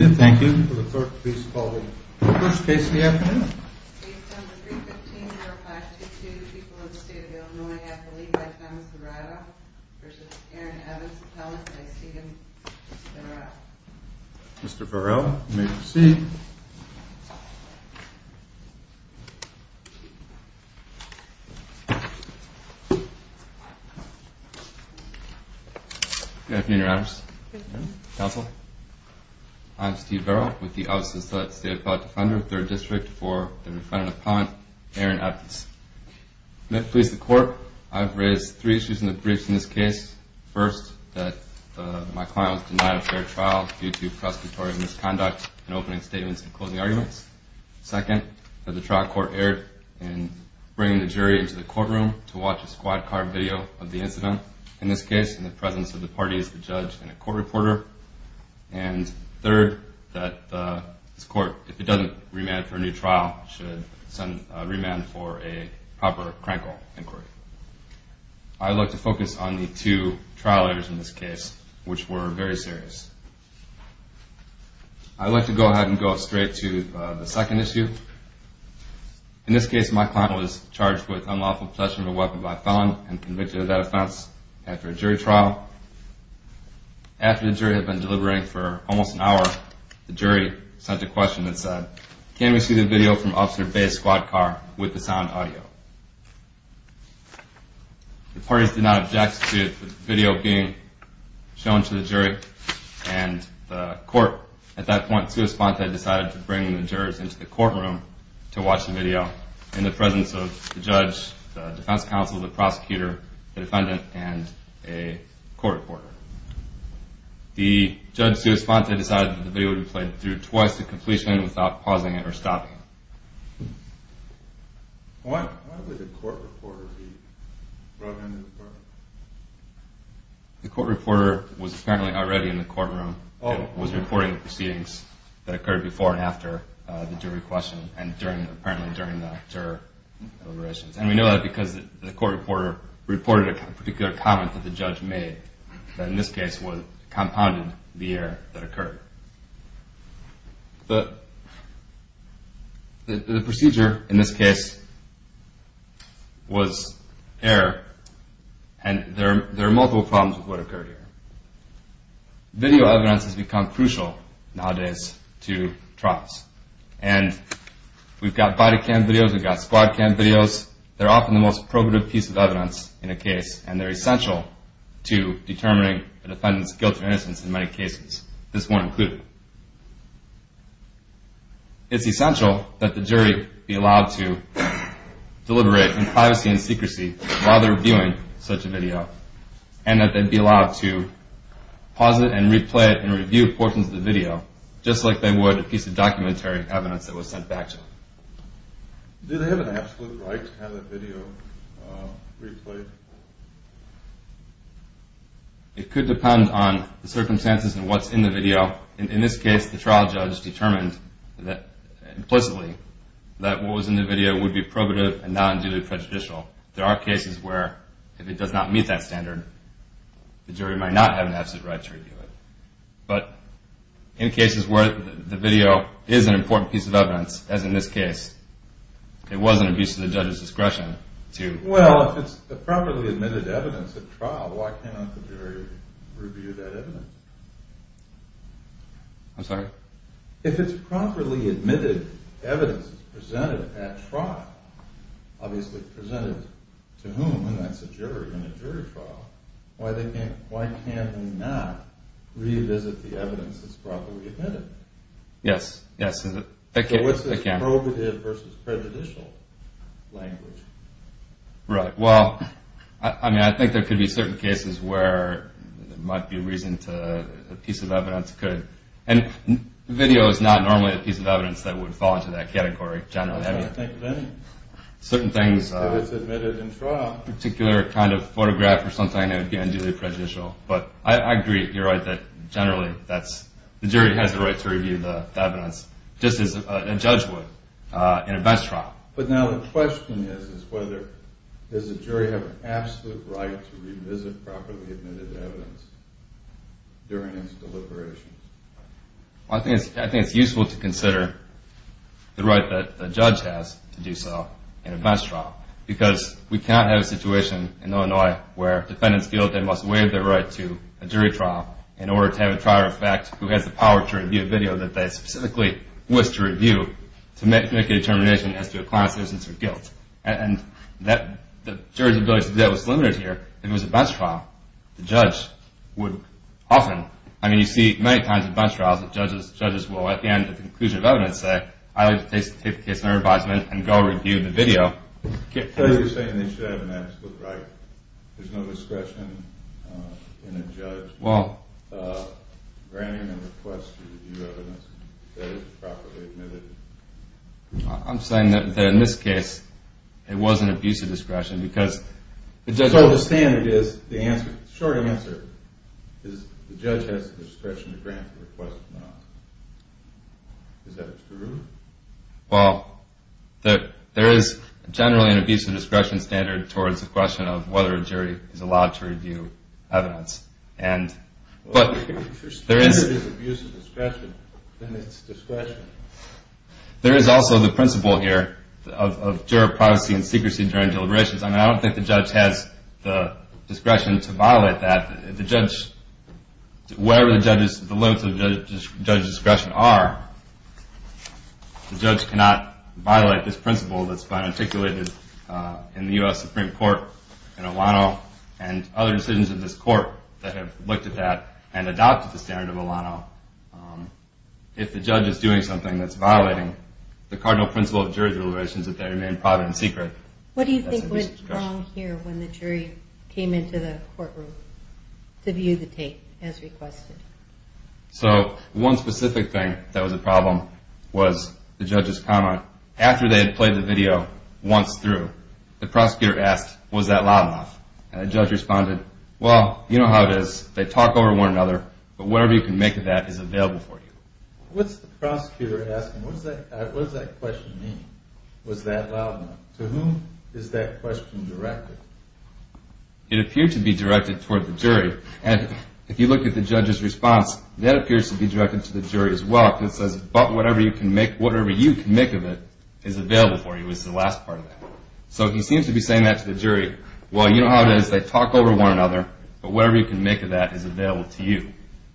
Thank you for the first case of the afternoon. Based on the 315-0522, the people of the state of Illinois have the lead by Thomas Varela versus Aaron Evans, appellant by Stephen Varela. Mr. Varela, you may proceed. Good afternoon, Your Honors. Counsel. I'm Steve Varela with the Office of the State Appellate Defender, 3rd District for the defendant appellant, Aaron Evans. I'm here to police the court. I've raised three issues in the briefs in this case. First, that my client was denied a fair trial due to prosecutorial misconduct in opening statements and closing arguments. Second, that the trial court erred in bringing the jury into the courtroom to watch a squad card video of the incident. In this case, in the presence of the parties, the judge and a court reporter. And third, that this court, if it doesn't remand for a new trial, should remand for a proper crankle inquiry. I'd like to focus on the two trial errors in this case, which were very serious. I'd like to go ahead and go straight to the second issue. In this case, my client was charged with unlawful possession of a weapon by a felon and convicted of that offense after a jury trial. After the jury had been deliberating for almost an hour, the jury sent a question that said, can we see the video from Officer Bay's squad car with the sound audio? The parties did not object to the video being shown to the jury, and the court, at that point, in response, had decided to bring the jurors into the courtroom to watch the video. In the presence of the judge, the defense counsel, the prosecutor, the defendant, and a court reporter. The judge's response, they decided that the video would be played through twice to completion without pausing it or stopping it. Why would the court reporter be brought into the courtroom? The court reporter was apparently already in the courtroom and was recording the proceedings that occurred before and after the jury question and apparently during the juror deliberations. And we know that because the court reporter reported a particular comment that the judge made that in this case compounded the error that occurred. The procedure in this case was error, and there are multiple problems with what occurred here. Video evidence has become crucial nowadays to trials. And we've got body cam videos, we've got squad cam videos. They're often the most probative piece of evidence in a case, and they're essential to determining a defendant's guilt or innocence in many cases, this one included. It's essential that the jury be allowed to deliberate in privacy and secrecy while they're allowed to pause it and replay it and review portions of the video just like they would a piece of documentary evidence that was sent back to them. Do they have an absolute right to have that video replayed? It could depend on the circumstances and what's in the video. In this case, the trial judge determined implicitly that what was in the video would be probative and non-duly prejudicial. There are cases where if it does not meet that standard, the jury might not have an absolute right to review it. But in cases where the video is an important piece of evidence, as in this case, it was an abuse of the judge's discretion to... Well, if it's properly admitted evidence at trial, why cannot the jury review that evidence? I'm sorry? If it's properly admitted evidence presented at trial, obviously presented to whom? That's a jury in a jury trial. Why can't they not revisit the evidence that's properly admitted? Yes. So what's this probative versus prejudicial language? Right. Well, I think there could be certain cases where there might be reason to... And video is not normally a piece of evidence that would fall into that category, generally. I was going to think of any. Certain things... If it's admitted in trial. Particular kind of photograph or something that would be unduly prejudicial. But I agree, you're right, that generally the jury has the right to review the evidence, just as a judge would in a bench trial. But now the question is, is whether... Does the jury have an absolute right to revisit properly admitted evidence during its deliberations? I think it's useful to consider the right that the judge has to do so in a bench trial, because we cannot have a situation in Illinois where defendants feel that they must waive their right to a jury trial in order to have a trial reference who has the power to review a video that they specifically wish to review to make a determination as to a client's innocence or guilt. And the jury's ability to do that was limited here. If it was a bench trial, the judge would often... I mean, you see many times in bench trials that judges will, at the end of the conclusion of evidence, say, I would like to take the case under advisement and go review the video. So you're saying they should have an absolute right. There's no discretion in a judge granting a request to review evidence that is properly admitted. I'm saying that in this case, it was an abuse of discretion because the judge... So the standard is, the short answer is the judge has the discretion to grant the request of an answer. Is that true? Well, there is generally an abuse of discretion standard towards the question of whether a jury is allowed to review evidence. Well, if your standard is abuse of discretion, then it's discretion. There is also the principle here of juror privacy and secrecy during deliberations. I mean, I don't think the judge has the discretion to violate that. The judge, wherever the limits of the judge's discretion are, the judge cannot violate this principle that's been articulated in the U.S. Supreme Court and other decisions of this court that have looked at that and adopted the standard of Alano. If the judge is doing something that's violating the cardinal principle of jury deliberations, that they remain private and secret, that's an abuse of discretion. What do you think went wrong here when the jury came into the courtroom to view the tape as requested? So one specific thing that was a problem was the judge's comment. After they had played the video once through, the prosecutor asked, was that loud enough? And the judge responded, well, you know how it is. They talk over one another, but whatever you can make of that is available for you. What's the prosecutor asking? What does that question mean, was that loud enough? To whom is that question directed? It appeared to be directed toward the jury. And if you look at the judge's response, that appears to be directed to the jury as well. The judge says, but whatever you can make of it is available for you, is the last part of that. So he seems to be saying that to the jury. Well, you know how it is. They talk over one another, but whatever you can make of that is available to you.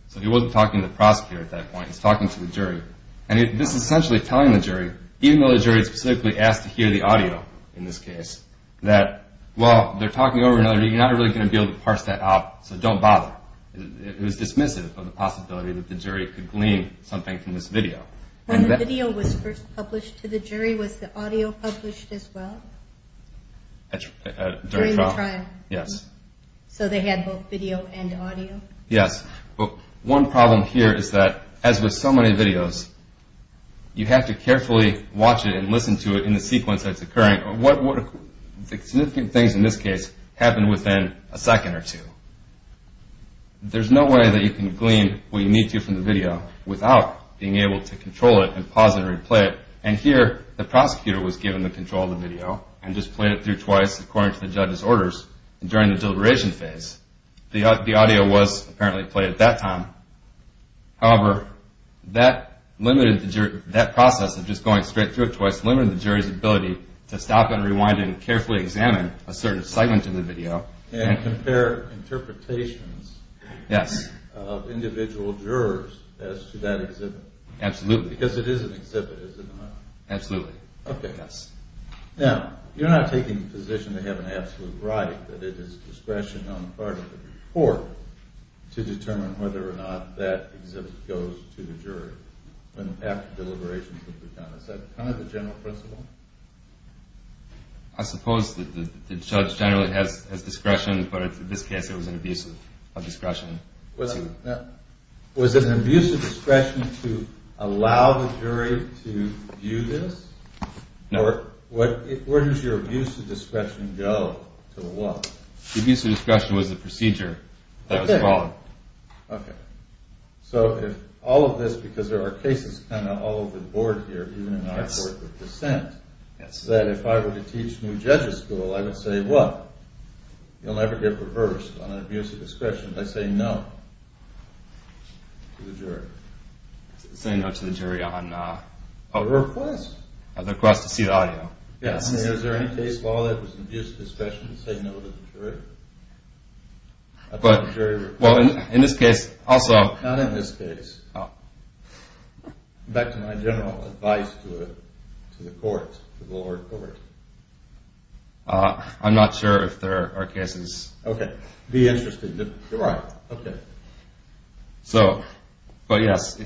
So he wasn't talking to the prosecutor at that point. He was talking to the jury. And this is essentially telling the jury, even though the jury specifically asked to hear the audio in this case, that, well, they're talking over one another. You're not really going to be able to parse that out, so don't bother. It was dismissive of the possibility that the jury could glean something from this video. When the video was first published to the jury, was the audio published as well during the trial? Yes. So they had both video and audio? Yes. Well, one problem here is that, as with so many videos, you have to carefully watch it and listen to it in the sequence that's occurring. Significant things in this case happen within a second or two. There's no way that you can glean what you need to from the video without being able to control it and pause it or replay it. And here, the prosecutor was given the control of the video and just played it through twice according to the judge's orders during the deliberation phase. The audio was apparently played at that time. However, that process of just going straight through it twice limited the jury's ability to stop and rewind and carefully examine a certain segment in the video. And compare interpretations of individual jurors as to that exhibit. Absolutely. Because it is an exhibit, is it not? Absolutely. Okay. Now, you're not taking the position to have an absolute right, but it is discretion on the part of the court to determine whether or not that exhibit goes to the jury after deliberations have been done. Is that kind of the general principle? I suppose the judge generally has discretion, but in this case it was an abuse of discretion. Was it an abuse of discretion to allow the jury to view this? No. Where does your abuse of discretion go to the law? The abuse of discretion was the procedure that was followed. Okay. So if all of this, because there are cases kind of all over the board here, even in our court of dissent, that if I were to teach new judges school, I would say, well, you'll never get reversed on an abuse of discretion by saying no to the jury. Saying no to the jury on a request. A request to see the audio. Yes. I mean, is there any case law that was an abuse of discretion to say no to the jury? Well, in this case also. Not in this case. Back to my general advice to the court, the lower court. I'm not sure if there are cases. Okay. Be interested. You're right. Okay. So, but yes,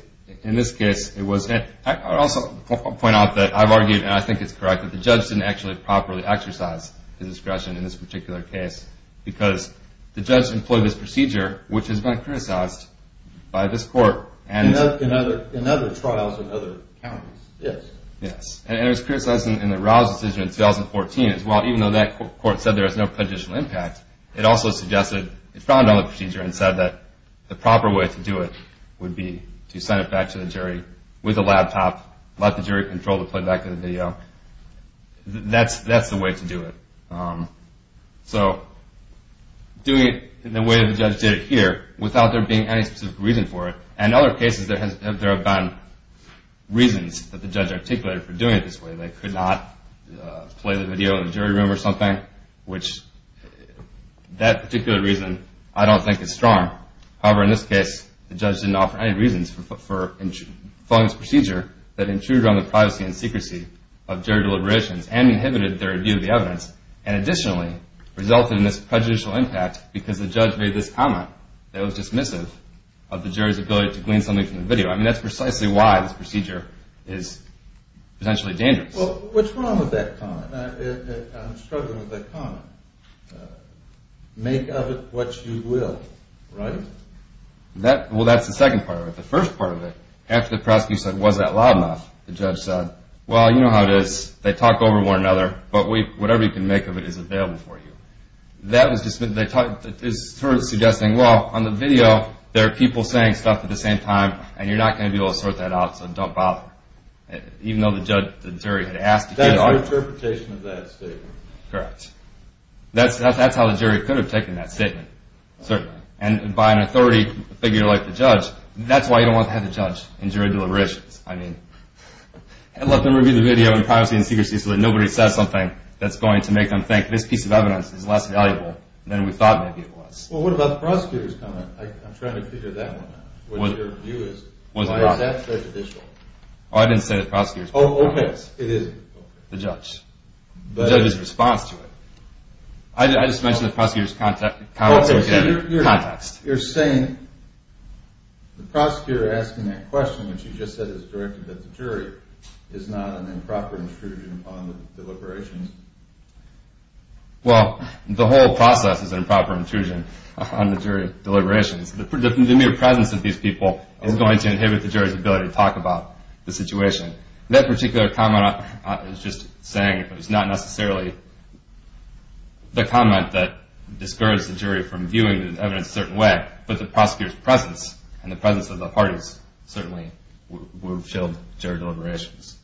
in this case it was. I would also point out that I've argued, and I think it's correct, that the judge didn't actually properly exercise his discretion in this particular case because the judge employed this procedure, which has been criticized by this court. In other trials in other counties. Yes. Yes. And it was criticized in the Rouse decision in 2014 as well, even though that court said there was no conditional impact. It also suggested, it found on the procedure and said that the proper way to do it would be to send it back to the jury with a laptop, let the jury control the playback of the video. That's the way to do it. So doing it in the way the judge did it here without there being any specific reason for it. In other cases there have been reasons that the judge articulated for doing it this way. They could not play the video in the jury room or something, which that particular reason I don't think is strong. However, in this case, the judge didn't offer any reasons for following this procedure that intruded on the privacy and secrecy of jury deliberations and inhibited their review of the evidence, and additionally resulted in this prejudicial impact because the judge made this comment that was dismissive of the jury's ability to glean something from the video. I mean, that's precisely why this procedure is potentially dangerous. Well, what's wrong with that comment? I'm struggling with that comment. Make of it what you will, right? Well, that's the second part of it. The first part of it, after the prosecutor said, was that loud enough, the judge said, well, you know how it is. They talk over one another, but whatever you can make of it is available for you. That was dismissive. It's sort of suggesting, well, on the video there are people saying stuff at the same time, and you're not going to be able to sort that out, so don't bother. Even though the jury had asked to get an argument. That's their interpretation of that statement. Correct. That's how the jury could have taken that statement. Certainly. And by an authority, a figure like the judge, that's why you don't want to have a judge in jury deliberations. I mean, let them review the video in privacy and secrecy so that nobody says something that's going to make them think this piece of evidence is less valuable than we thought maybe it was. Well, what about the prosecutor's comment? I'm trying to figure that one out. Why is that prejudicial? Oh, I didn't say the prosecutor's comment. Oh, okay, it isn't. The judge. The judge's response to it. I just mentioned the prosecutor's comment. You're saying the prosecutor asking that question, which you just said is directed at the jury, is not an improper intrusion on the deliberations. Well, the whole process is an improper intrusion on the jury deliberations. The mere presence of these people is going to inhibit the jury's ability to talk about the situation. That particular comment is just saying it's not necessarily the comment that discourages the jury from viewing the evidence a certain way, but the prosecutor's presence and the presence of the parties certainly will shield jury deliberations.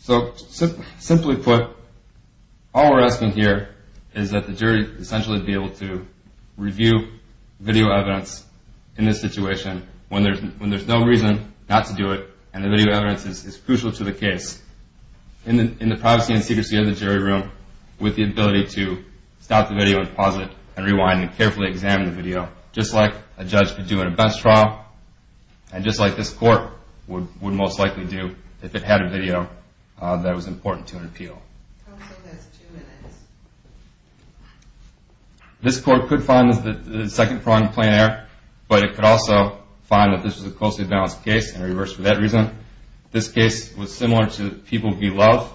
So simply put, all we're asking here is that the jury essentially be able to review video evidence in this situation when there's no reason not to do it and the video evidence is crucial to the case, in the privacy and secrecy of the jury room, with the ability to stop the video and pause it and rewind and carefully examine the video, just like a judge could do in a bench trial and just like this court would most likely do if it had a video that was important to an appeal. I would say that's two minutes. This court could find the second front in plain error, but it could also find that this was a closely balanced case and reverse for that reason. This case was similar to People v. Love.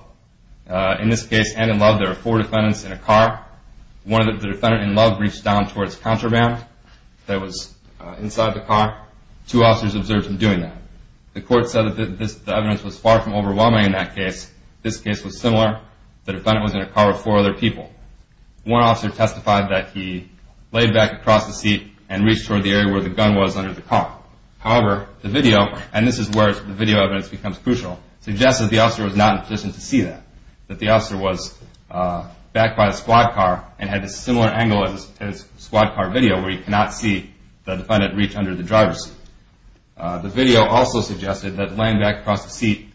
In this case and in Love, there were four defendants in a car. One of the defendants in Love reached down towards the contraband that was inside the car. Two officers observed him doing that. The court said that the evidence was far from overwhelming in that case. This case was similar. The defendant was in a car with four other people. One officer testified that he laid back across the seat and reached toward the area where the gun was under the car. However, the video, and this is where the video evidence becomes crucial, suggests that the officer was not in a position to see that, that the officer was backed by a squad car and had a similar angle as squad car video where you cannot see the defendant reach under the driver's seat. The video also suggested that laying back across the seat,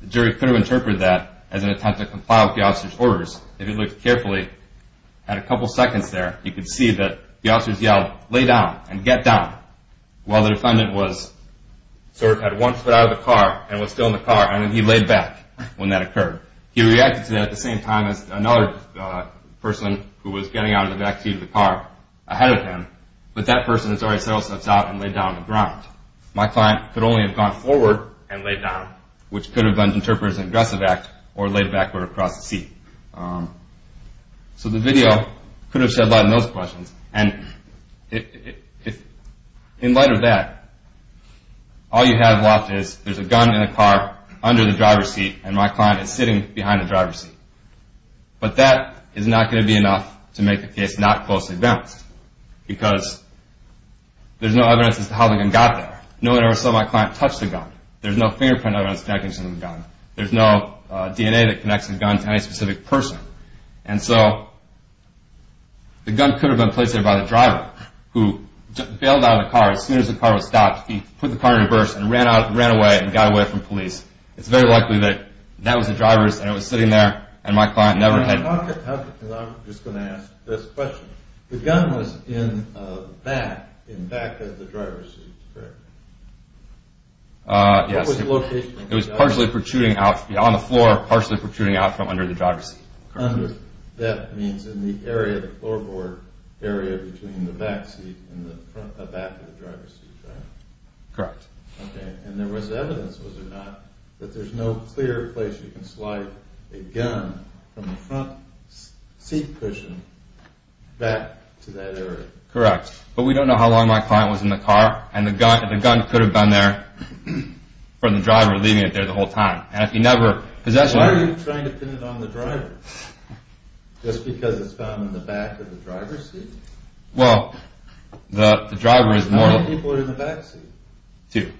the jury could have interpreted that as an attempt to comply with the officer's orders. If you looked carefully at a couple seconds there, you could see that the officers yelled, lay down and get down, while the defendant was sort of at one foot out of the car and was still in the car, and then he laid back when that occurred. He reacted to that at the same time as another person who was getting out of the back seat of the car ahead of him, but that person has already settled steps out and laid down on the ground. My client could only have gone forward and laid down, which could have been interpreted as an aggressive act or laid backward across the seat. So the video could have shed light on those questions. And in light of that, all you have left is there's a gun in the car under the driver's seat and my client is sitting behind the driver's seat. But that is not going to be enough to make the case not closely balanced because there's no evidence as to how the gun got there. No one ever saw my client touch the gun. There's no fingerprint evidence connecting to the gun. There's no DNA that connects the gun to any specific person. And so the gun could have been placed there by the driver who bailed out of the car as soon as the car was stopped. He put the car in reverse and ran away and got away from police. It's very likely that that was the driver's and it was sitting there and my client never had... I'm just going to ask this question. The gun was in the back of the driver's seat, correct? Yes. What was the location of the driver's seat? It was partially protruding out on the floor, partially protruding out from under the driver's seat. That means in the area, the floorboard area between the back seat and the back of the driver's seat, right? Correct. And there was evidence, was there not, that there's no clear place you can slide a gun from the front seat cushion back to that area? Correct. But we don't know how long my client was in the car and the gun could have been there from the driver leaving it there the whole time. Why are you trying to pin it on the driver? Just because it's found in the back of the driver's seat? Well, the driver is more... How many people are in the back seat? Two.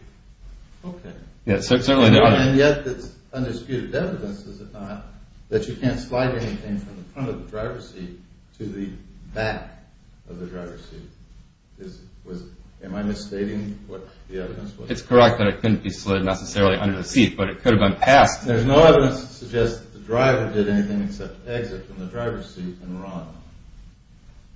Okay. And yet there's undisputed evidence, is there not, that you can't slide anything from the front of the driver's seat to the back of the driver's seat. Am I misstating what the evidence was? It's correct that it couldn't be slid necessarily under the seat, but it could have been passed. There's no evidence to suggest that the driver did anything except exit from the driver's seat and run.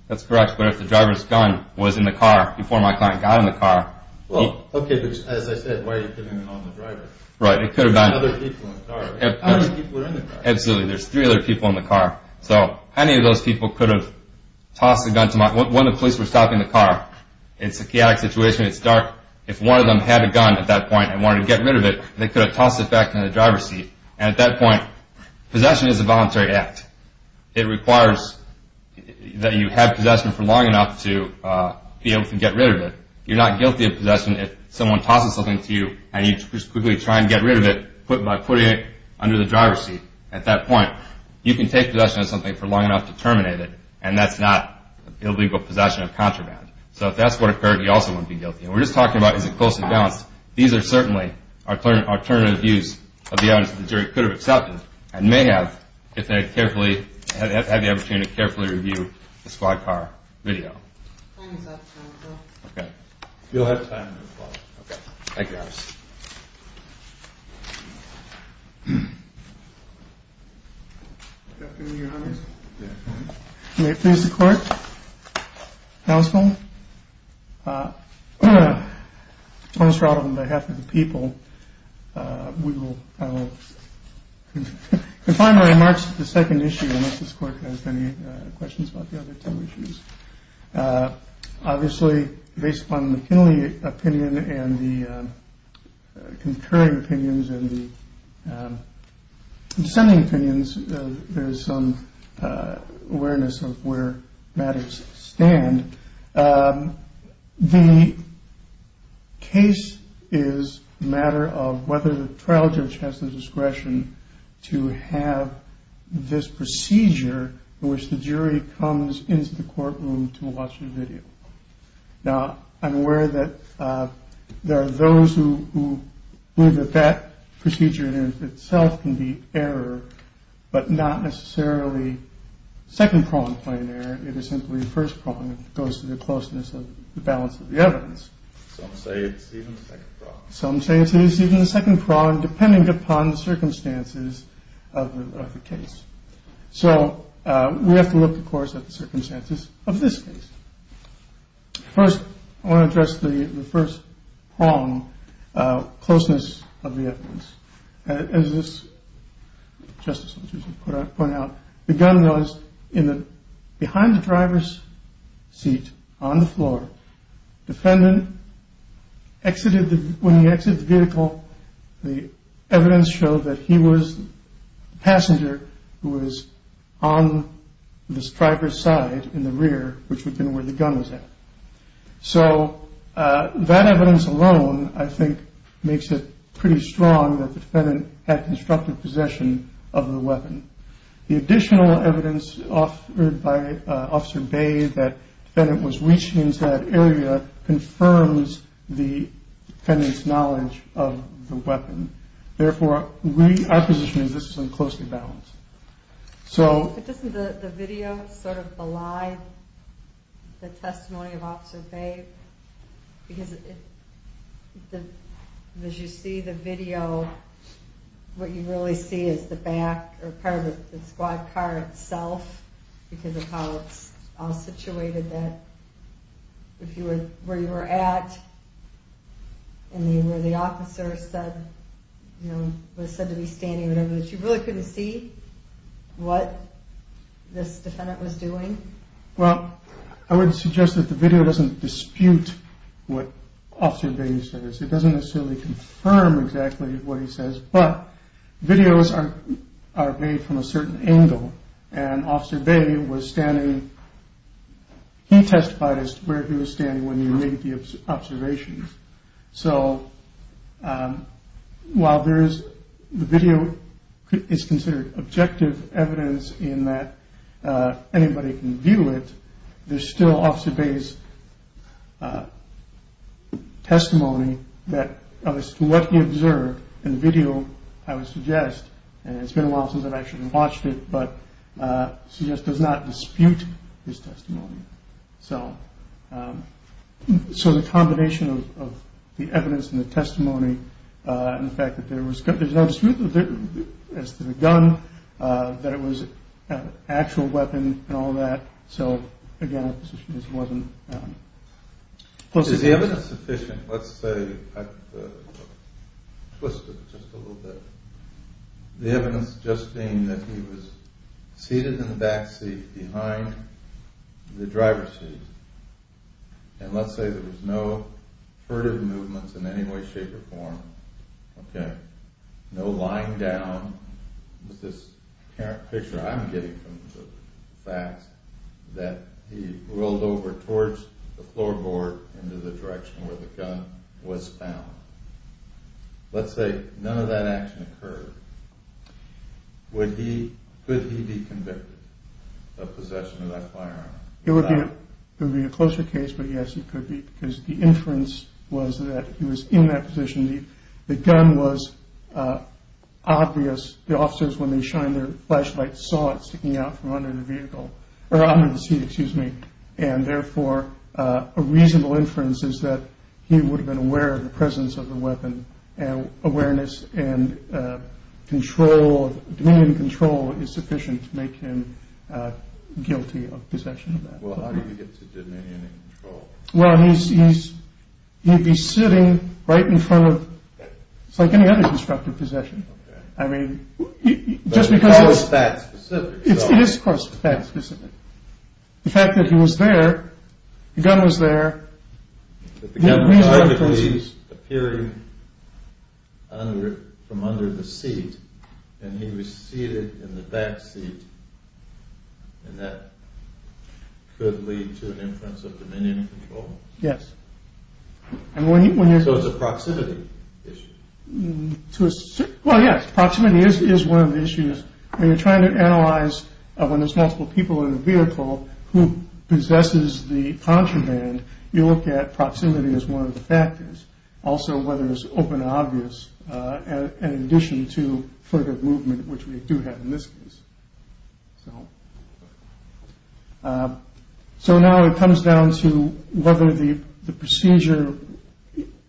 That's correct, but if the driver's gun was in the car before my client got in the car... Well, okay, but as I said, why are you pinning it on the driver? Right, it could have been... How many people are in the car? Absolutely, there's three other people in the car, so how many of those people could have tossed the gun to my... When the police were stopping the car, in a psychiatric situation, it's dark, if one of them had a gun at that point and wanted to get rid of it, they could have tossed it back in the driver's seat. And at that point, possession is a voluntary act. It requires that you have possession for long enough to be able to get rid of it. You're not guilty of possession if someone tosses something to you and you just quickly try and get rid of it by putting it under the driver's seat. At that point, you can take possession of something for long enough to terminate it, and that's not illegal possession of contraband. So if that's what occurred, you also wouldn't be guilty. And we're just talking about is it close and balanced. These are certainly alternative views of the evidence that the jury could have accepted and may have, if they had the opportunity to carefully review the squad car video. Time is up. Okay. You'll have time to applaud. Okay. Thank you, Your Honor. Good afternoon, Your Honor. May it please the Court. Household. On behalf of the people, we will... Confine my remarks to the second issue, unless this Court has any questions about the other two issues. Obviously, based upon McKinley opinion and the concurring opinions and the dissenting opinions, there is some awareness of where matters stand. The case is a matter of whether the trial judge has the discretion to have this procedure in which the jury comes into the courtroom to watch a video. Now, I'm aware that there are those who believe that that procedure in itself can be error, but not necessarily second-pronged plain error. It is simply first-pronged. It goes to the closeness of the balance of the evidence. Some say it's even second-pronged. Some say it's even second-pronged, depending upon the circumstances of the case. So we have to look, of course, at the circumstances of this case. First, I want to address the first-pronged closeness of the evidence. As this justice pointed out, the gun was behind the driver's seat on the floor. When the defendant exited the vehicle, the evidence showed that he was the passenger who was on this driver's side in the rear, which would have been where the gun was at. So that evidence alone, I think, makes it pretty strong that the defendant had constructive possession of the weapon. The additional evidence offered by Officer Bay that the defendant was reaching into that area confirms the defendant's knowledge of the weapon. Therefore, our position is this is in close balance. Doesn't the video sort of belie the testimony of Officer Bay? Because as you see the video, what you really see is the back or part of the squad car itself because of how it's all situated that where you were at and where the officer was said to be standing, you really couldn't see what this defendant was doing. Well, I would suggest that the video doesn't dispute what Officer Bay says. It doesn't necessarily confirm exactly what he says, but videos are made from a certain angle. And Officer Bay was standing, he testified as to where he was standing when he made the observations. So while the video is considered objective evidence in that anybody can view it, there's still Officer Bay's testimony that as to what he observed in the video, I would suggest, and it's been a while since I've actually watched it, but I suggest does not dispute his testimony. So the combination of the evidence and the testimony and the fact that there's no dispute as to the gun, that it was an actual weapon and all that. So again, this wasn't close enough. Is the evidence sufficient? Let's say I've twisted it just a little bit. The evidence just being that he was seated in the back seat behind the driver's seat. And let's say there was no furtive movements in any way, shape or form. No lying down. This picture I'm getting from the facts that he rolled over towards the floorboard into the direction where the gun was found. Let's say none of that action occurred. Could he be convicted of possession of that firearm? It would be a closer case, but yes, he could be because the inference was that he was in that position. The gun was obvious. The officers, when they shined their flashlights, saw it sticking out from under the seat. And therefore, a reasonable inference is that he would have been aware of the presence of the weapon. Awareness and dominion and control is sufficient to make him guilty of possession of that firearm. How did he get to dominion and control? He'd be sitting right in front of, it's like any other constructive possession. But it's not that specific. It is, of course, that specific. The fact that he was there, the gun was there. The gun was arguably appearing from under the seat, and he was seated in the back seat. And that could lead to an inference of dominion and control. Yes. So it's a proximity issue. Well, yes, proximity is one of the issues. When you're trying to analyze when there's multiple people in a vehicle who possesses the contraband, you look at proximity as one of the factors. Also, whether it's open and obvious, in addition to further movement, which we do have in this case. So now it comes down to whether the procedure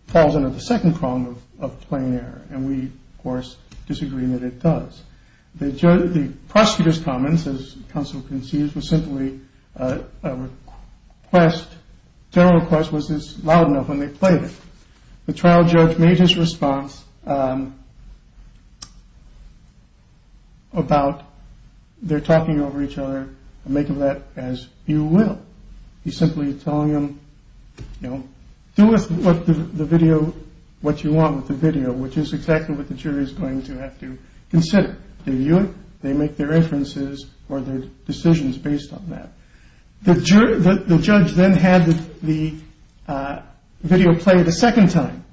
falls under the second prong of plain error. And we, of course, disagree that it does. The prosecutor's comments, as counsel concedes, was simply a request, a general request, was this loud enough when they played it. The trial judge made his response about they're talking over each other. Make of that as you will. He's simply telling them, you know, do with the video what you want with the video, which is exactly what the jury is going to have to consider. Do you? They make their inferences or their decisions based on that. The judge then had the video played a second time.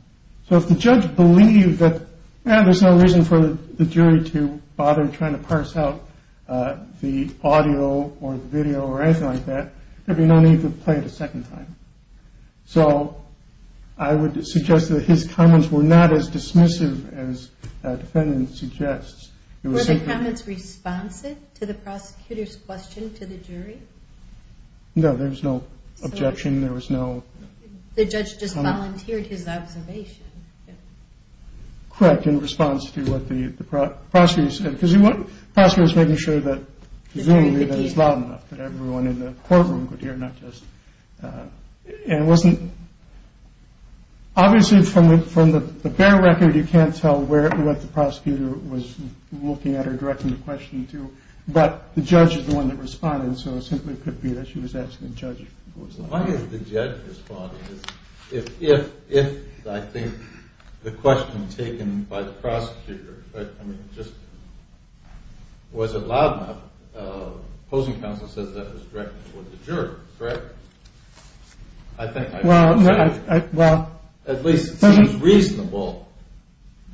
So if the judge believed that there's no reason for the jury to bother trying to parse out the audio or video or anything like that, there'd be no need to play it a second time. So I would suggest that his comments were not as dismissive as the defendant suggests. Were the comments responsive to the prosecutor's question to the jury? No, there was no objection. There was no comment. The judge just volunteered his observation. Correct, in response to what the prosecutor said, because the prosecutor was making sure that presumably that it was loud enough that everyone in the courtroom could hear, not just. And it wasn't. Obviously, from the from the bare record, you can't tell where the prosecutor was looking at or directing the question to. But the judge is the one that responded. So it simply could be that she was asking the judge. Why is the judge responding? If I think the question taken by the prosecutor, I mean, just was it loud enough? The opposing counsel says that was directed toward the jury, correct? I think at least it seems reasonable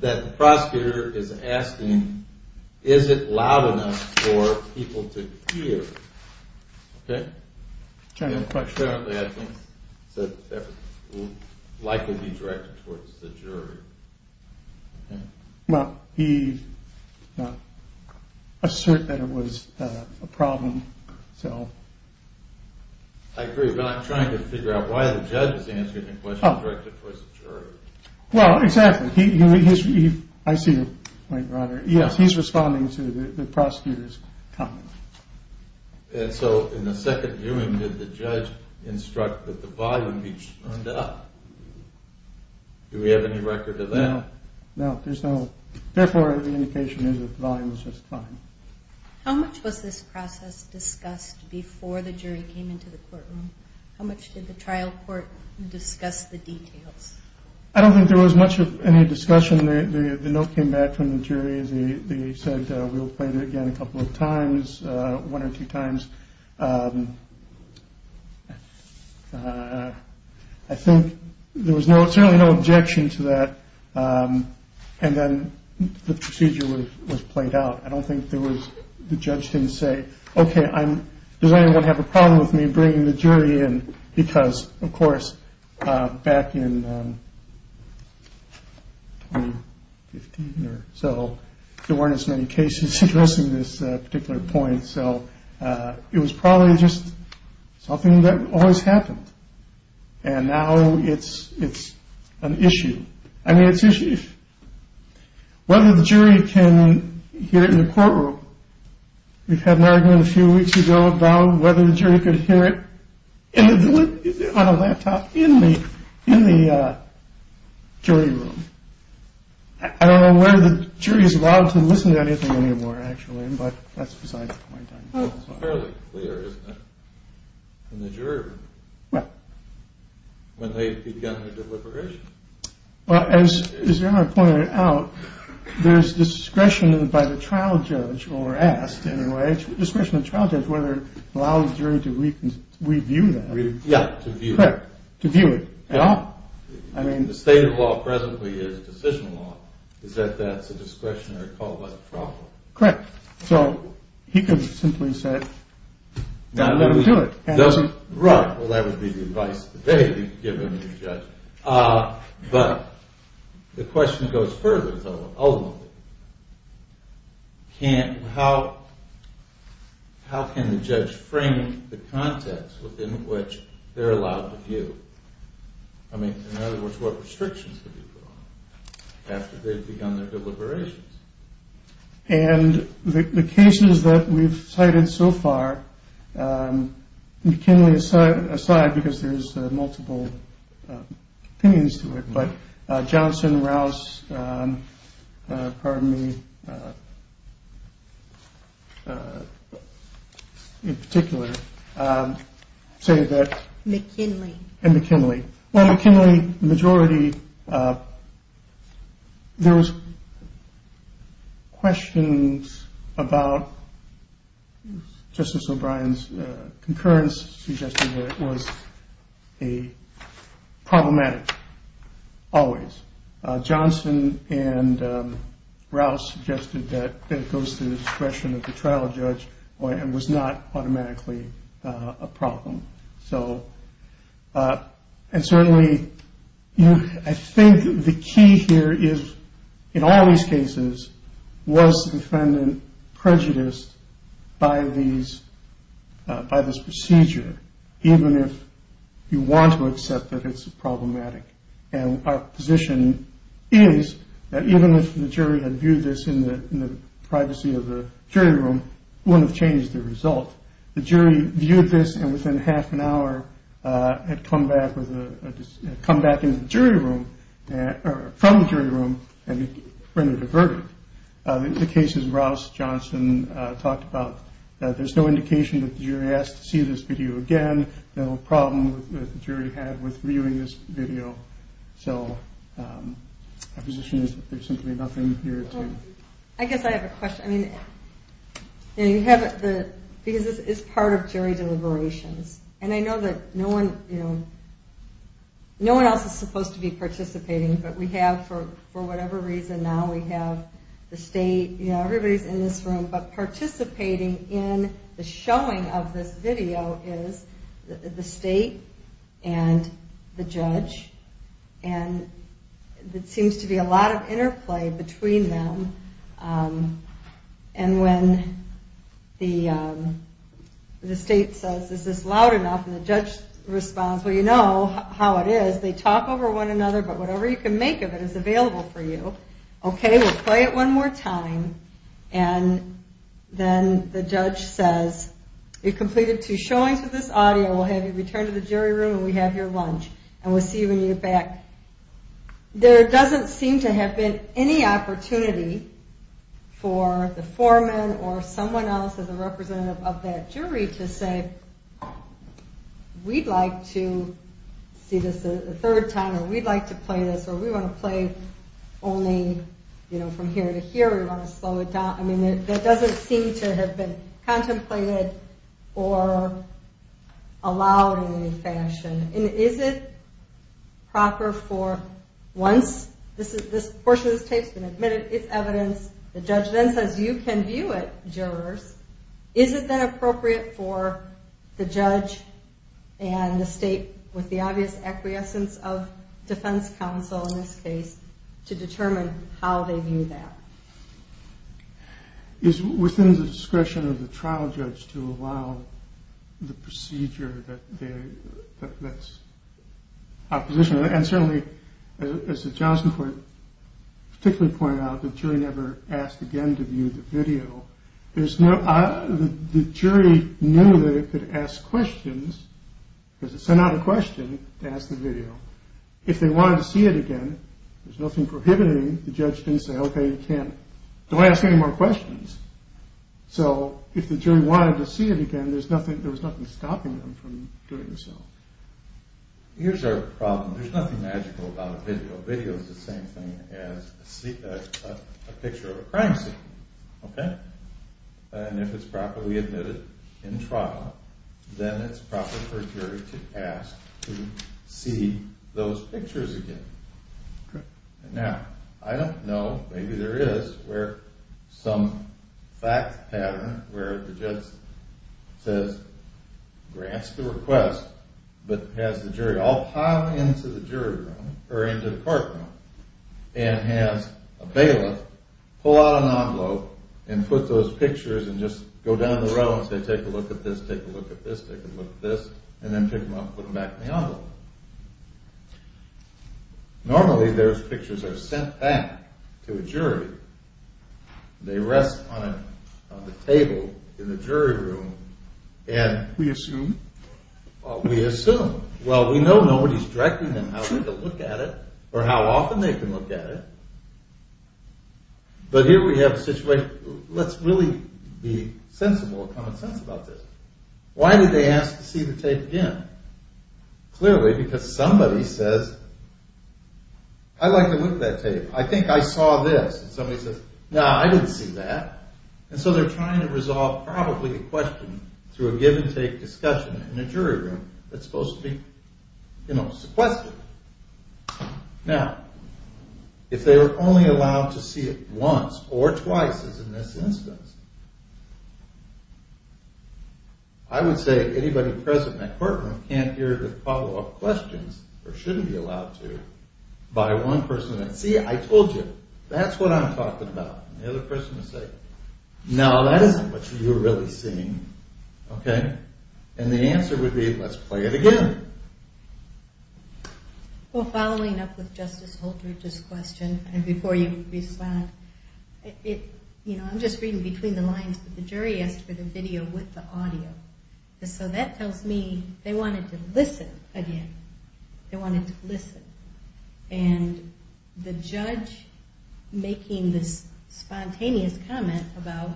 that the prosecutor is asking, is it loud enough for people to hear? OK? General question. Generally, I think that will likely be directed towards the jury. Well, he asserted that it was a problem, so. I agree, but I'm trying to figure out why the judge is answering the question directed towards the jury. Well, exactly. I see your point, Robert. Yes, he's responding to the prosecutor's comment. And so in the second viewing, did the judge instruct that the volume be turned up? Do we have any record of that? No, there's no. Therefore, the indication is that the volume is just fine. How much was this process discussed before the jury came into the courtroom? How much did the trial court discuss the details? I don't think there was much of any discussion. The note came back from the jury. They said we'll play it again a couple of times, one or two times. I think there was no it's really no objection to that. And then the procedure was played out. I don't think there was the judge didn't say, OK, I'm going to have a problem with me bringing the jury in. Because, of course, back in 15 or so, there weren't as many cases addressing this particular point. So it was probably just something that always happened. And now it's it's an issue. I mean, it's whether the jury can hear it in the courtroom. We've had an argument a few weeks ago about whether the jury could hear it on a laptop in the in the jury room. I don't know whether the jury is allowed to listen to anything anymore, actually. But that's besides the point. Fairly clear, isn't it? In the jury room. When they've begun their deliberation. Well, as you pointed out, there's discretion by the trial judge or asked anyway, discretion of trial judge, whether it allows the jury to review that. Yeah, to view it. To view it at all. I mean, the state of law presently is decision law. Is that that's a discretionary call? What problem? Correct. So he could simply say, no, no, no, no. Right. Well, that would be the advice they give him. But the question goes further. Can't how? How can the judge frame the context within which they're allowed to view? I mean, in other words, what restrictions? After they've begun their deliberations. And the cases that we've cited so far, McKinley aside because there's multiple opinions to it. But Johnson, Rouse. Pardon me. In particular, say that McKinley and McKinley McKinley majority. There was questions about Justice O'Brien's concurrence suggested that it was a problematic. Always Johnson and Rouse suggested that it goes to the discretion of the trial judge and was not automatically a problem. So and certainly I think the key here is in all these cases was defendant prejudiced by these by this procedure. Even if you want to accept that it's problematic. And our position is that even if the jury had viewed this in the privacy of the jury room, wouldn't have changed the result. The jury viewed this and within half an hour had come back with a comeback in the jury room from the jury room. And in the cases, Rouse, Johnson talked about that. There's no indication that the jury has to see this video again. No problem with the jury had with viewing this video. So our position is that there's simply nothing here to. I guess I have a question. Because this is part of jury deliberations. And I know that no one else is supposed to be participating. But we have for whatever reason now we have the state. Everybody's in this room. But participating in the showing of this video is the state and the judge. And it seems to be a lot of interplay between them. And when the state says, is this loud enough? And the judge responds, well, you know how it is. They talk over one another. But whatever you can make of it is available for you. Okay, we'll play it one more time. And then the judge says, you've completed two showings with this audio. We'll have you return to the jury room and we have your lunch. And we'll see you when you get back. There doesn't seem to have been any opportunity for the foreman or someone else as a representative of that jury to say, we'd like to see this a third time. Or we'd like to play this. Or we want to play only from here to here. We want to slow it down. I mean, that doesn't seem to have been contemplated or allowed in any fashion. And is it proper for once this portion of this tape has been admitted, it's evidence, the judge then says, you can view it, jurors. Is it then appropriate for the judge and the state, with the obvious acquiescence of defense counsel in this case, to determine how they view that? It's within the discretion of the trial judge to allow the procedure that's opposition. And certainly, as the Johnson court particularly pointed out, the jury never asked again to view the video. The jury knew that it could ask questions. Because it sent out a question to ask the video. If they wanted to see it again, there's nothing prohibiting the judge from saying, OK, you can't. Don't ask any more questions. So if the jury wanted to see it again, there was nothing stopping them from doing so. Here's our problem. There's nothing magical about a video. A video is the same thing as a picture of a crime scene. And if it's properly admitted in trial, then it's proper for a jury to ask to see those pictures again. Now, I don't know. Maybe there is some fact pattern where the judge says, grants the request, but has the jury all pile into the jury room or into the court room and has a bailiff pull out an envelope and put those pictures and just go down the row and say, take a look at this, take a look at this, take a look at this, and then pick them up and put them back in the envelope. Normally, those pictures are sent back to a jury. They rest on a table in the jury room. We assume. We assume. Well, we know nobody's directing them how to look at it or how often they can look at it. But here we have a situation. Let's really be sensible and common sense about this. Why did they ask to see the tape again? Clearly, because somebody says, I'd like to look at that tape. I think I saw this. And somebody says, no, I didn't see that. And so they're trying to resolve probably a question through a give-and-take discussion in a jury room that's supposed to be sequestered. Now, if they were only allowed to see it once or twice, as in this instance, I would say anybody present in that court room can't hear the follow-up questions or shouldn't be allowed to by one person. See, I told you. That's what I'm talking about. And the other person would say, no, that isn't what you're really seeing. And the answer would be, let's play it again. Well, following up with Justice Holdridge's question, and before you respond, I'm just reading between the lines, but the jury asked for the video with the audio. So that tells me they wanted to listen again. They wanted to listen. And the judge making this spontaneous comment about,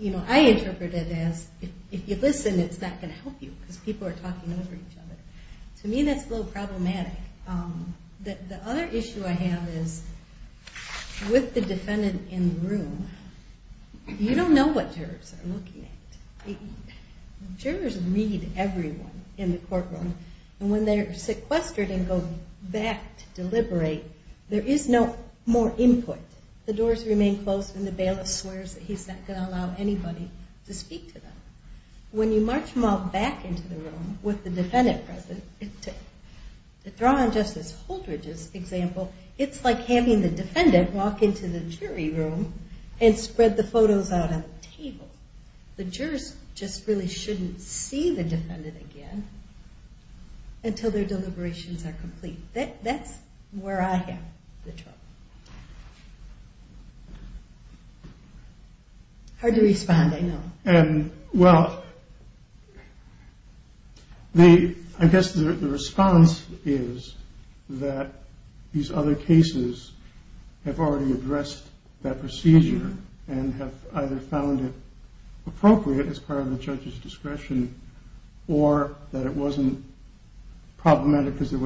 you know, I interpret it as if you listen, it's not going to help you because people are talking over each other. To me, that's a little problematic. The other issue I have is with the defendant in the room, you don't know what jurors are looking at. Jurors read everyone in the court room. And when they're sequestered and go back to deliberate, there is no more input. The doors remain closed and the bailiff swears that he's not going to allow anybody to speak to them. When you march them all back into the room with the defendant present, to draw on Justice Holdridge's example, it's like having the defendant walk into the jury room and spread the photos out on the table. The jurors just really shouldn't see the defendant again. Until their deliberations are complete. That's where I have the trouble. Hard to respond, I know. Well, I guess the response is that these other cases have already addressed that procedure and have either found it appropriate as part of the judge's discretion or that it wasn't problematic because the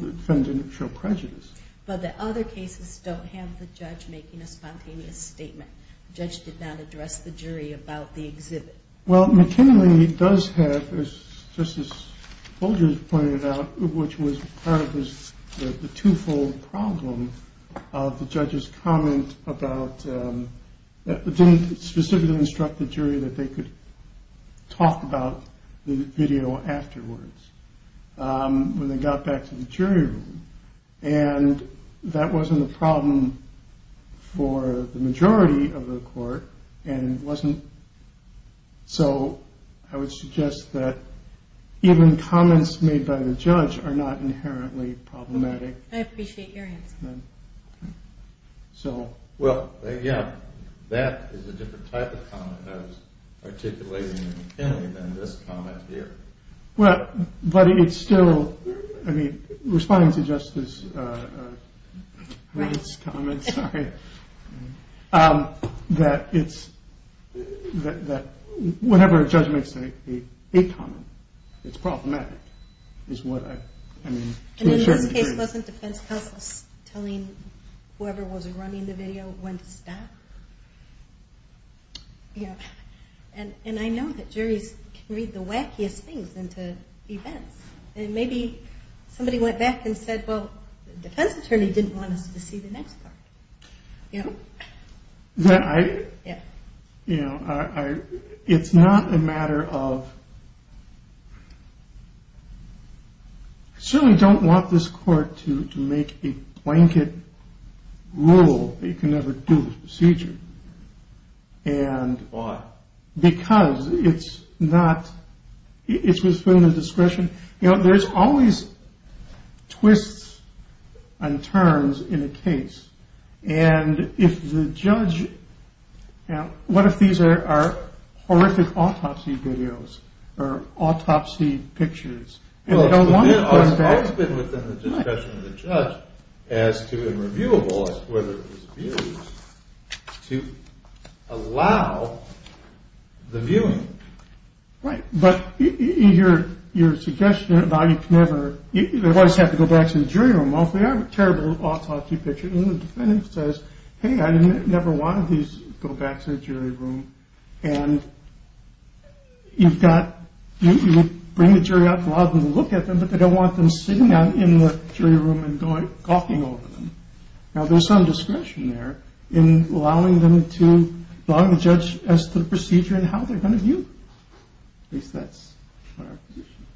defendant didn't show prejudice. But the other cases don't have the judge making a spontaneous statement. The judge did not address the jury about the exhibit. Well, McKinley does have, as Justice Holdridge pointed out, which was part of the two-fold problem of the judge's comment about didn't specifically instruct the jury that they could talk about the video afterwards when they got back to the jury room. And that wasn't a problem for the majority of the court. So I would suggest that even comments made by the judge are not inherently problematic. I appreciate your answer. Well, yeah, that is a different type of comment I was articulating in McKinley than this comment here. But it's still, I mean, responding to Justice Wright's comment, sorry, that whatever a judge makes a comment, it's problematic, is what I mean. And in this case, wasn't defense counsel telling whoever was running the video when to stop? And I know that juries can read the wackiest things into events. And maybe somebody went back and said, well, the defense attorney didn't want us to see the next part. Yeah. You know, it's not a matter of... I certainly don't want this court to make a blanket rule that you can never do this procedure. And... Why? Because it's not... It's within the discretion... You know, there's always twists and turns in a case. And if the judge... What if these are horrific autopsy videos or autopsy pictures? Well, it's always been within the discretion of the judge as to whether it was viewable, as to whether it was viewed, to allow the viewing. Right. But your suggestion about you can never... They always have to go back to the jury room. Well, if they have a terrible autopsy picture, and the defendant says, hey, I never wanted these, go back to the jury room, and you've got... You would bring the jury up and allow them to look at them, but they don't want them sitting in the jury room and gawking over them. Now, there's some discretion there in allowing them to... At least that's what our position is.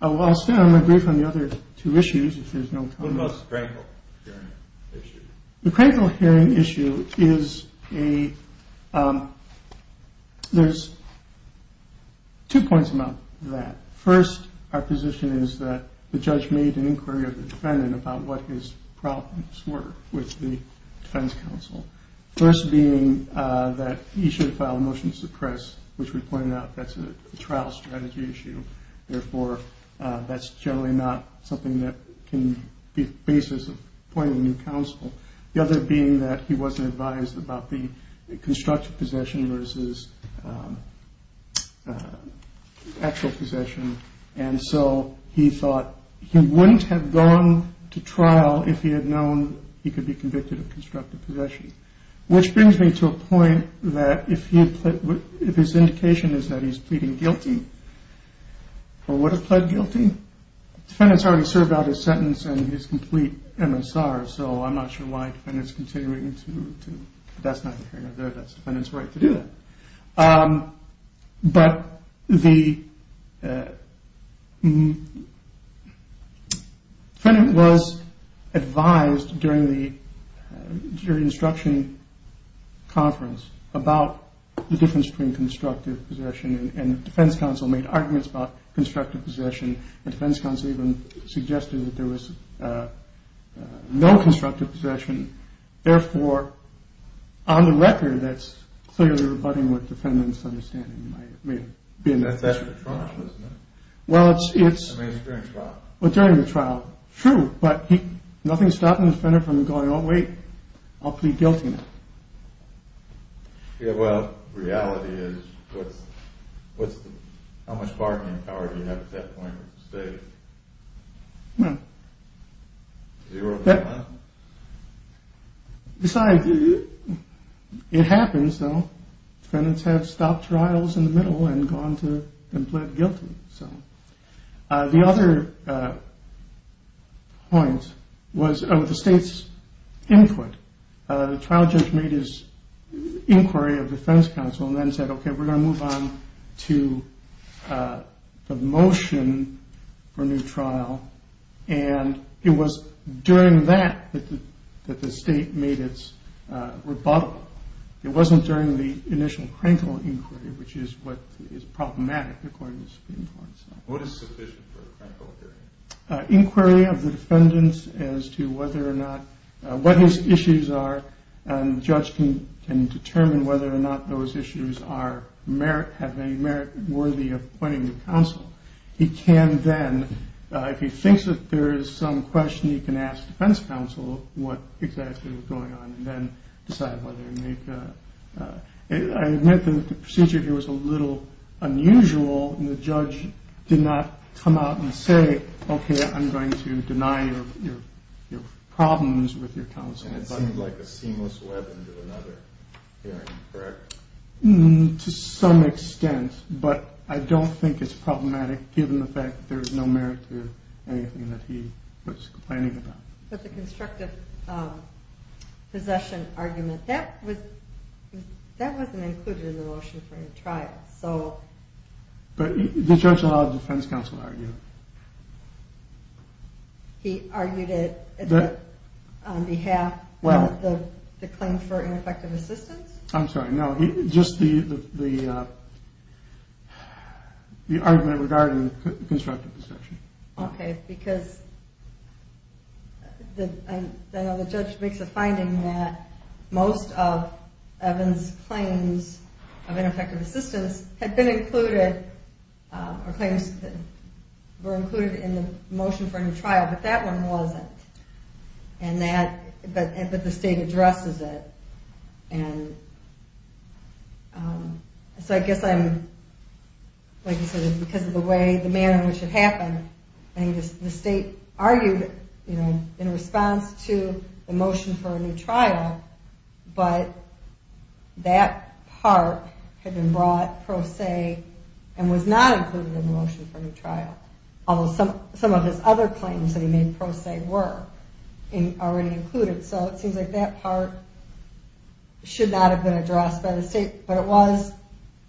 I'll stay on the brief on the other two issues, if there's no comment. What about the critical hearing issue? The critical hearing issue is a... There's two points about that. First, our position is that the judge made an inquiry of the defendant about what his problems were with the defense counsel. First being that he should file a motion to suppress, which we pointed out, that's a trial strategy issue. Therefore, that's generally not something that can be the basis of appointing new counsel. The other being that he wasn't advised about the constructive possession versus actual possession, if he had known he could be convicted of constructive possession. Which brings me to a point that if his indication is that he's pleading guilty, or would have pled guilty, the defendant's already served out his sentence and his complete MSR, so I'm not sure why the defendant's continuing to... That's not the case. That's the defendant's right to do that. But the... The defendant was advised during the jury instruction conference about the difference between constructive possession and the defense counsel made arguments about constructive possession. The defense counsel even suggested that there was no constructive possession. Therefore, on the record, that's clearly rebutting what the defendant's understanding may have been. And that's actually the trial, isn't it? Well, it's... I mean, it's during the trial. Well, during the trial. True. But nothing's stopping the defendant from going, oh, wait, I'll plead guilty now. Yeah, well, reality is, what's the... How much bargaining power do you have at that point with the state? Well... Zero. Besides, it happens, though. Defendants have stopped trials in the middle and gone to... And plead guilty, so... The other point was the state's input. The trial judge made his inquiry of the defense counsel and then said, okay, we're going to move on to the motion for a new trial. And it was during that that the state made its rebuttal. It wasn't during the initial critical inquiry, which is what is problematic, according to the Supreme Court. What is sufficient for a critical inquiry? Inquiry of the defendants as to whether or not... What his issues are, and the judge can determine whether or not those issues have any merit worthy of appointing the counsel. He can then, if he thinks that there is some question, he can ask the defense counsel what exactly was going on and then decide whether to make a... I admit that the procedure here was a little unusual, and the judge did not come out and say, okay, I'm going to deny your problems with your counsel. And it seemed like a seamless web into another hearing, correct? To some extent. But I don't think it's problematic, given the fact that there is no merit to anything that he was complaining about. But the constructive possession argument, that wasn't included in the motion for a trial, so... But the judge allowed the defense counsel to argue. He argued it on behalf of the claim for ineffective assistance? I'm sorry, no. Just the argument regarding constructive possession. Okay, because... I know the judge makes a finding that most of Evans' claims of ineffective assistance had been included, or claims that were included in the motion for a new trial, but that one wasn't. And that, but the state addresses it. And... So I guess I'm... Because of the way, the manner in which it happened, the state argued in response to the motion for a new trial, but that part had been brought pro se and was not included in the motion for a new trial. Although some of his other claims that he made pro se were already included. So it seems like that part should not have been addressed by the state, but it was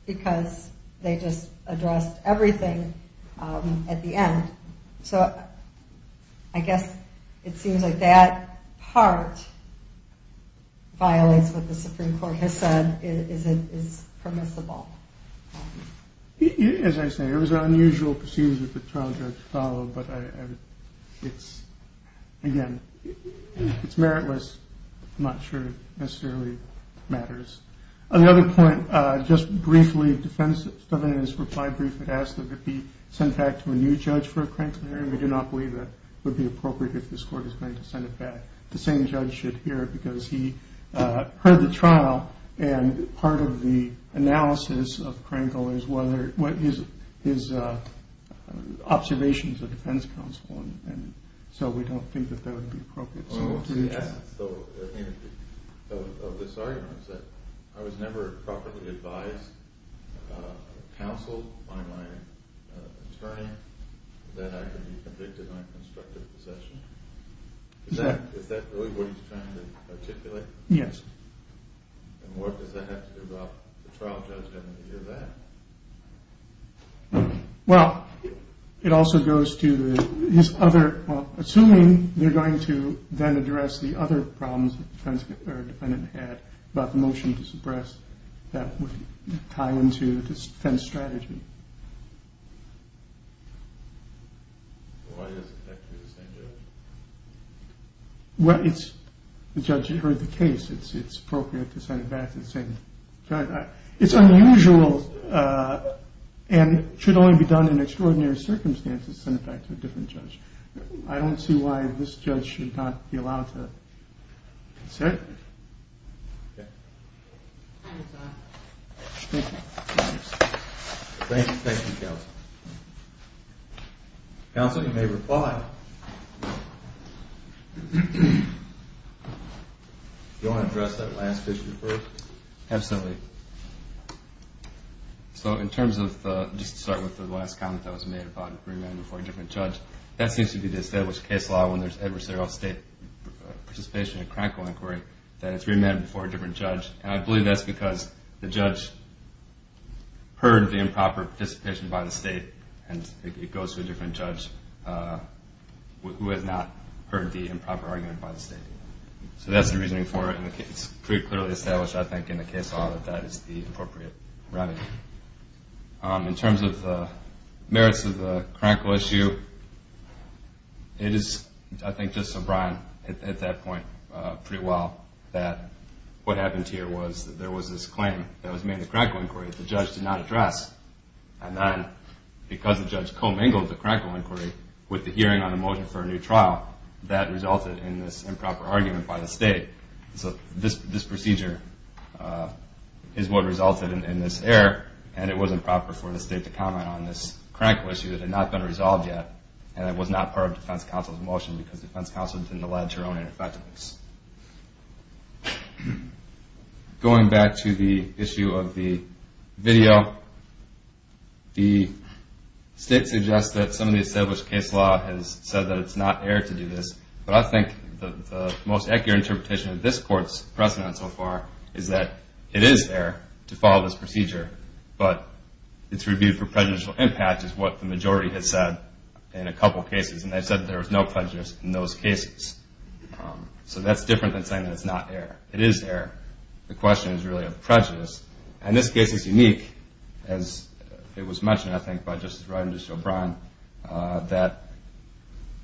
because they just addressed everything at the end. So I guess it seems like that part violates what the Supreme Court has said is permissible. As I say, it was an unusual procedure for the trial judge to follow, but it's, again, it's meritless. I'm not sure it necessarily matters. Another point, just briefly, the defense defendant in his reply brief had asked that it be sent back to a new judge for a Krangel hearing. We do not believe that it would be appropriate if this court is going to send it back. The same judge should hear it because he heard the trial and part of the analysis of Krangel is whether, what his observations of defense counsel, and so we don't think that that would be appropriate. So this argument is that I was never properly advised, counseled by my attorney, that I could be convicted of unconstructive possession. Is that really what he's trying to articulate? Yes. And what does that have to do about the trial judge having to hear that? Well, it also goes to his other, well, assuming they're going to then address the other problems that the defense defendant had about the motion to suppress that would tie into the defense strategy. Why does it have to be the same judge? Well, it's the judge who heard the case. It's appropriate to send it back to the same judge. It's unusual and should only be done in extraordinary circumstances to send it back to a different judge. I don't see why this judge should not be allowed to say it. Okay. Thank you. Thank you, counsel. Counsel, you may reply. Do you want to address that last issue first? Absolutely. So in terms of, just to start with the last comment that was made about it being readmitted before a different judge, that seems to be the established case law when there's adversarial state participation in a crankle inquiry that it's readmitted before a different judge, and I believe that's because the judge heard the improper participation by the state and it goes to a different judge who has not heard the improper argument by the state. So that's the reasoning for it, and it's clearly established, I think, in the case law that that is the appropriate remedy. In terms of the merits of the crankle issue, it is, I think, just sublime at that point, pretty well, that what happened here was that there was this claim that was made in the crankle inquiry that the judge did not address, and then because the judge commingled the crankle inquiry with the hearing on a motion for a new trial, that resulted in this improper argument by the state. So this procedure is what resulted in this error, and it wasn't proper for the state to comment on this crankle issue that had not been resolved yet, and it was not part of defense counsel's motion because defense counsel didn't allege her own ineffectiveness. Going back to the issue of the video, the state suggests that some of the established case law has said that it's not error to do this, but I think the most accurate interpretation of this court's precedent so far is that it is error to follow this procedure, but it's reviewed for prejudicial impact, is what the majority has said in a couple of cases, and they've said that there was no prejudice in those cases. So that's different than saying that it's not error. It is error. The question is really of prejudice, and this case is unique, as it was mentioned, I think, by Justice Breyer and Justice O'Brien, that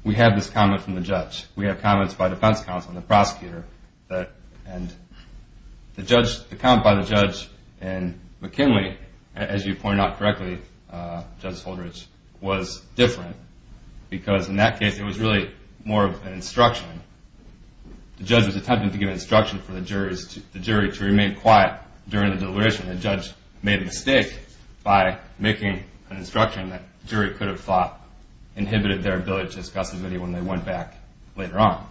we have this comment from the judge. We have comments by defense counsel and the prosecutor, and the comment by the judge in McKinley, as you pointed out correctly, Judge Holdridge, was different because in that case it was really more of an instruction. The judge was attempting to give instruction for the jury to remain quiet during the deliberation. The judge made a mistake by making an instruction that the jury could have thought inhibited their ability to discuss the video when they went back later on.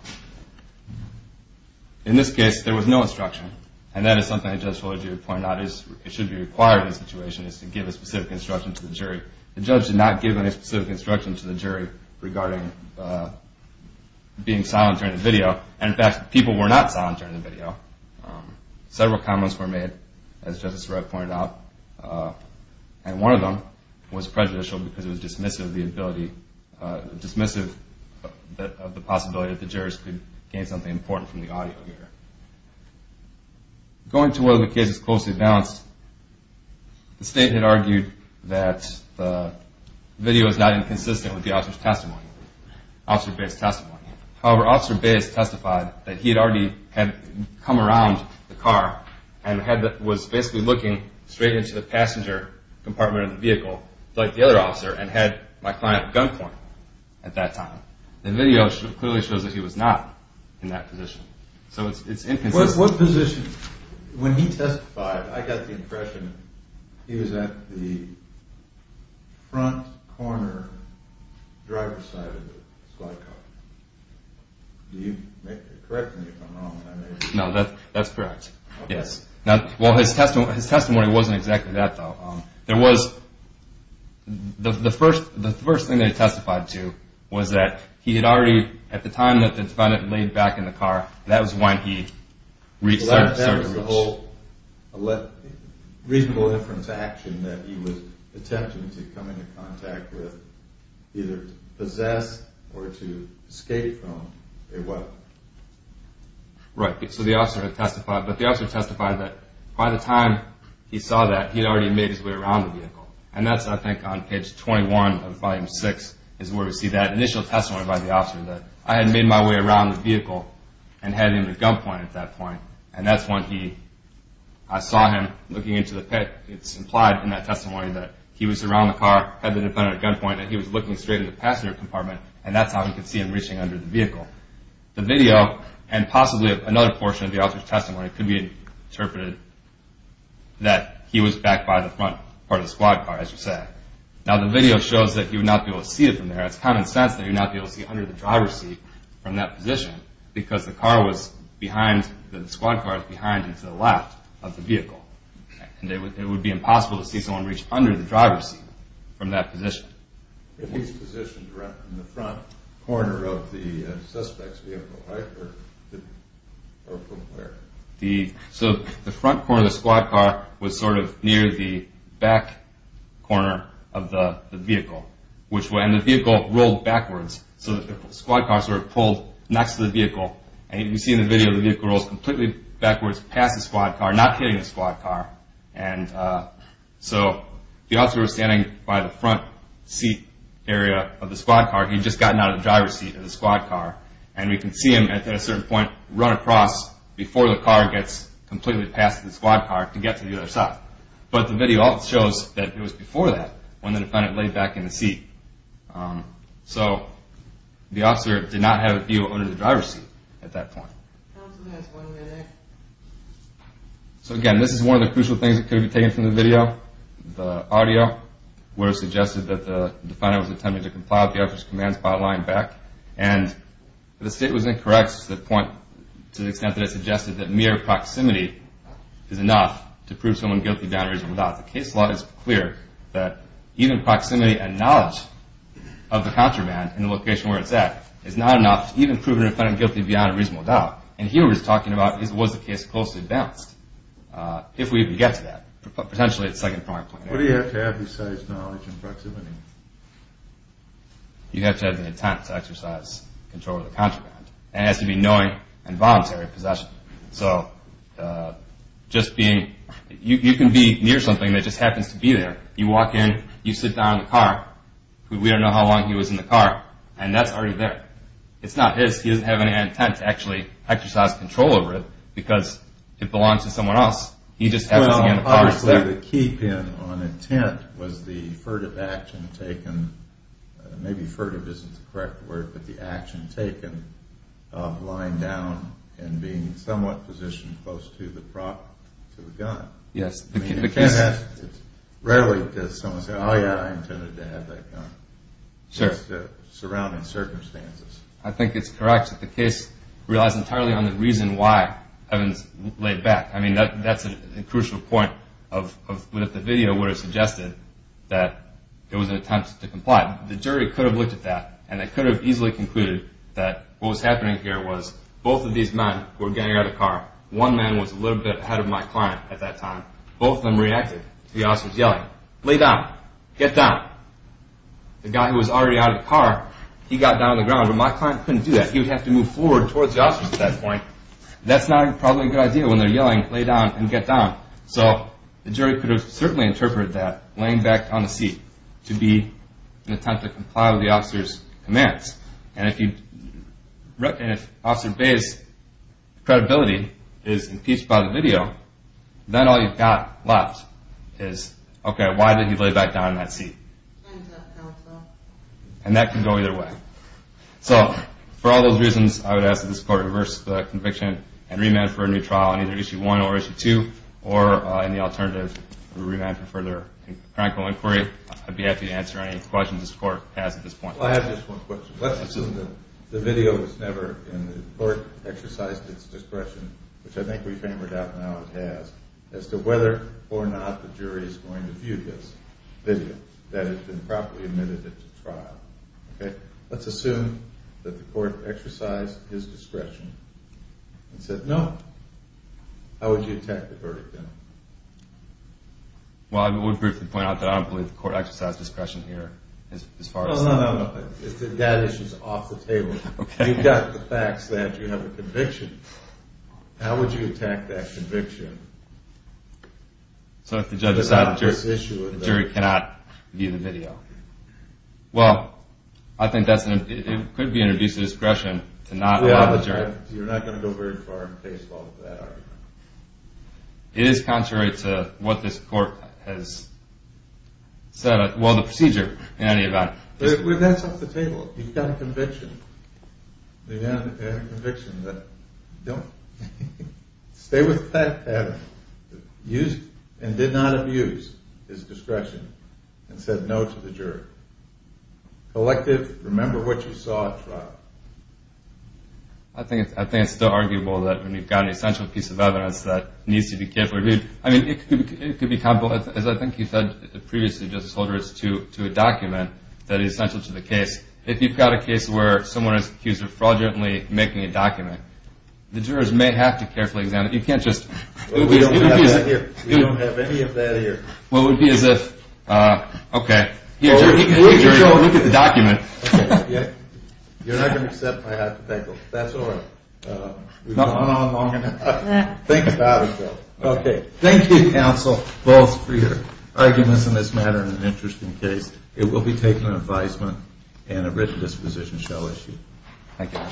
In this case, there was no instruction, and that is something that Judge Holdridge pointed out. It should be required in this situation, is to give a specific instruction to the jury. The judge did not give any specific instruction to the jury In fact, people were not silent during the video. Several comments were made, as Justice Sreb pointed out, and one of them was prejudicial because it was dismissive of the ability, dismissive of the possibility that the jurors could gain something important from the audio here. Going to whether the case is closely balanced, the State had argued that the video is not inconsistent with the officer's testimony, Officer Bayes' testimony. However, Officer Bayes testified that he had already come around the car and was basically looking straight into the passenger compartment of the vehicle, like the other officer, and had my client at gunpoint at that time. The video clearly shows that he was not in that position. So it's inconsistent. When he testified, I got the impression that he was at the front corner driver's side of the slide car. Do you correct me if I'm wrong? No, that's correct. Yes. Well, his testimony wasn't exactly that, though. There was, the first thing that he testified to was that he had already, at the time that the defendant laid back in the car, that was when he reached out to search. That was the whole reasonable inference action that he was attempting to come into contact with, either to possess or to escape from a weapon. Right, so the officer testified, but the officer testified that by the time he saw that, he had already made his way around the vehicle. And that's, I think, on page 21 of volume 6 is where we see that initial testimony by the officer that I had made my way around the vehicle and headed into gunpoint at that point, and that's when he, I saw him looking into the pit. It's implied in that testimony that he was around the car, had the defendant at gunpoint, that he was looking straight into the passenger compartment, and that's how he could see him reaching under the vehicle. The video and possibly another portion of the officer's testimony could be interpreted that he was back by the front part of the slide car, as you said. Now, the video shows that he would not be able to see it from there. It's common sense that he would not be able to see it under the driver's seat from that position because the car was behind, the squad car was behind and to the left of the vehicle, and it would be impossible to see someone reach under the driver's seat from that position. He was positioned in the front corner of the suspect's vehicle, right? Or from where? So the front corner of the squad car was sort of near the back corner of the vehicle, and the vehicle rolled backwards, so the squad car sort of pulled next to the vehicle, and you see in the video, the vehicle rolls completely backwards past the squad car, not hitting the squad car, and so the officer was standing by the front seat area of the squad car. He had just gotten out of the driver's seat of the squad car, and we can see him at a certain point run across before the car gets completely past the squad car to get to the other side. But the video also shows that it was before that when the defendant laid back in the seat. So the officer did not have a view under the driver's seat at that point. So again, this is one of the crucial things that could have been taken from the video. The audio would have suggested that the defendant was attempting to comply with the officer's commands by lying back, and the state was incorrect to the extent that it suggested that mere proximity is enough to prove someone guilty of downed reason or not. The case law is clear that even proximity and knowledge of the contraband in the location where it's at is not enough to even prove the defendant guilty of downed reason or not. And here we're talking about was the case closely balanced, if we even get to that, potentially at the second point. What do you have to have besides knowledge and proximity? You have to have the intent to exercise control of the contraband, and it has to be knowing and voluntary possession. So just being, you can be near something that just happens to be there. You walk in, you sit down in the car. We don't know how long he was in the car, and that's already there. It's not his. He doesn't have any intent to actually exercise control over it because it belongs to someone else. He just happens to be in the car. Well, obviously the key pin on intent was the furtive action taken, maybe furtive isn't the correct word, but the action taken of lying down and being somewhat positioned close to the gun. Yes. Rarely does someone say, oh, yeah, I intended to have that gun. Sure. Just surrounding circumstances. I think it's correct that the case relies entirely on the reason why Evans laid back. I mean, that's a crucial point, but if the video would have suggested that it was an attempt to comply, the jury could have looked at that, and they could have easily concluded that what was happening here was both of these men were getting out of the car. One man was a little bit ahead of my client at that time. Both of them reacted to the officers yelling, lay down, get down. The guy who was already out of the car, he got down on the ground, but my client couldn't do that. He would have to move forward towards the officers at that point. That's not probably a good idea when they're yelling lay down and get down. So the jury could have certainly interpreted that laying back on the seat to be an attempt to comply with the officer's commands. And if Officer Bay's credibility is impeached by the video, then all you've got left is, okay, why did he lay back down in that seat? And that can go either way. So for all those reasons, I would ask that this Court reverse the conviction and remand for a new trial on either Issue 1 or Issue 2, or in the alternative, remand for further criminal inquiry. I'd be happy to answer any questions this Court has at this point. Well, I have just one question. Let's assume the video was never, and the Court exercised its discretion, which I think we've hammered out now it has, as to whether or not the jury is going to view this video, that it's been properly admitted into trial. Let's assume that the Court exercised its discretion and said, No. How would you attack the verdict then? Well, I would briefly point out that I don't believe the Court exercised discretion here. No, no, no. That issue's off the table. You've got the facts that you have a conviction. How would you attack that conviction? So if the judge decided the jury cannot view the video. Well, I think it could be an abuse of discretion to not allow the jury. You're not going to go very far in case law with that argument. It is contrary to what this Court has said, well, the procedure in any event. Well, that's off the table. You've got a conviction. You've got a conviction. Don't. Stay with that pattern. Used and did not abuse his discretion and said no to the jury. Collective, remember what you saw at trial. I think it's still arguable that when you've got an essential piece of evidence that needs to be carefully reviewed. I mean, it could be comparable, as I think you said previously, Justice Holder, to a document that is essential to the case. If you've got a case where someone is accused of fraudulently making a document, the jurors may have to carefully examine it. You can't just... We don't have any of that here. Well, it would be as if... Okay. Look at the document. You're not going to accept my hypothetical. That's all right. We've gone on long enough. Think about it, though. Okay. Thank you, counsel, both, for your arguments in this matter. It's an interesting case. It will be taken in advisement and a written disposition shall issue. Thank you.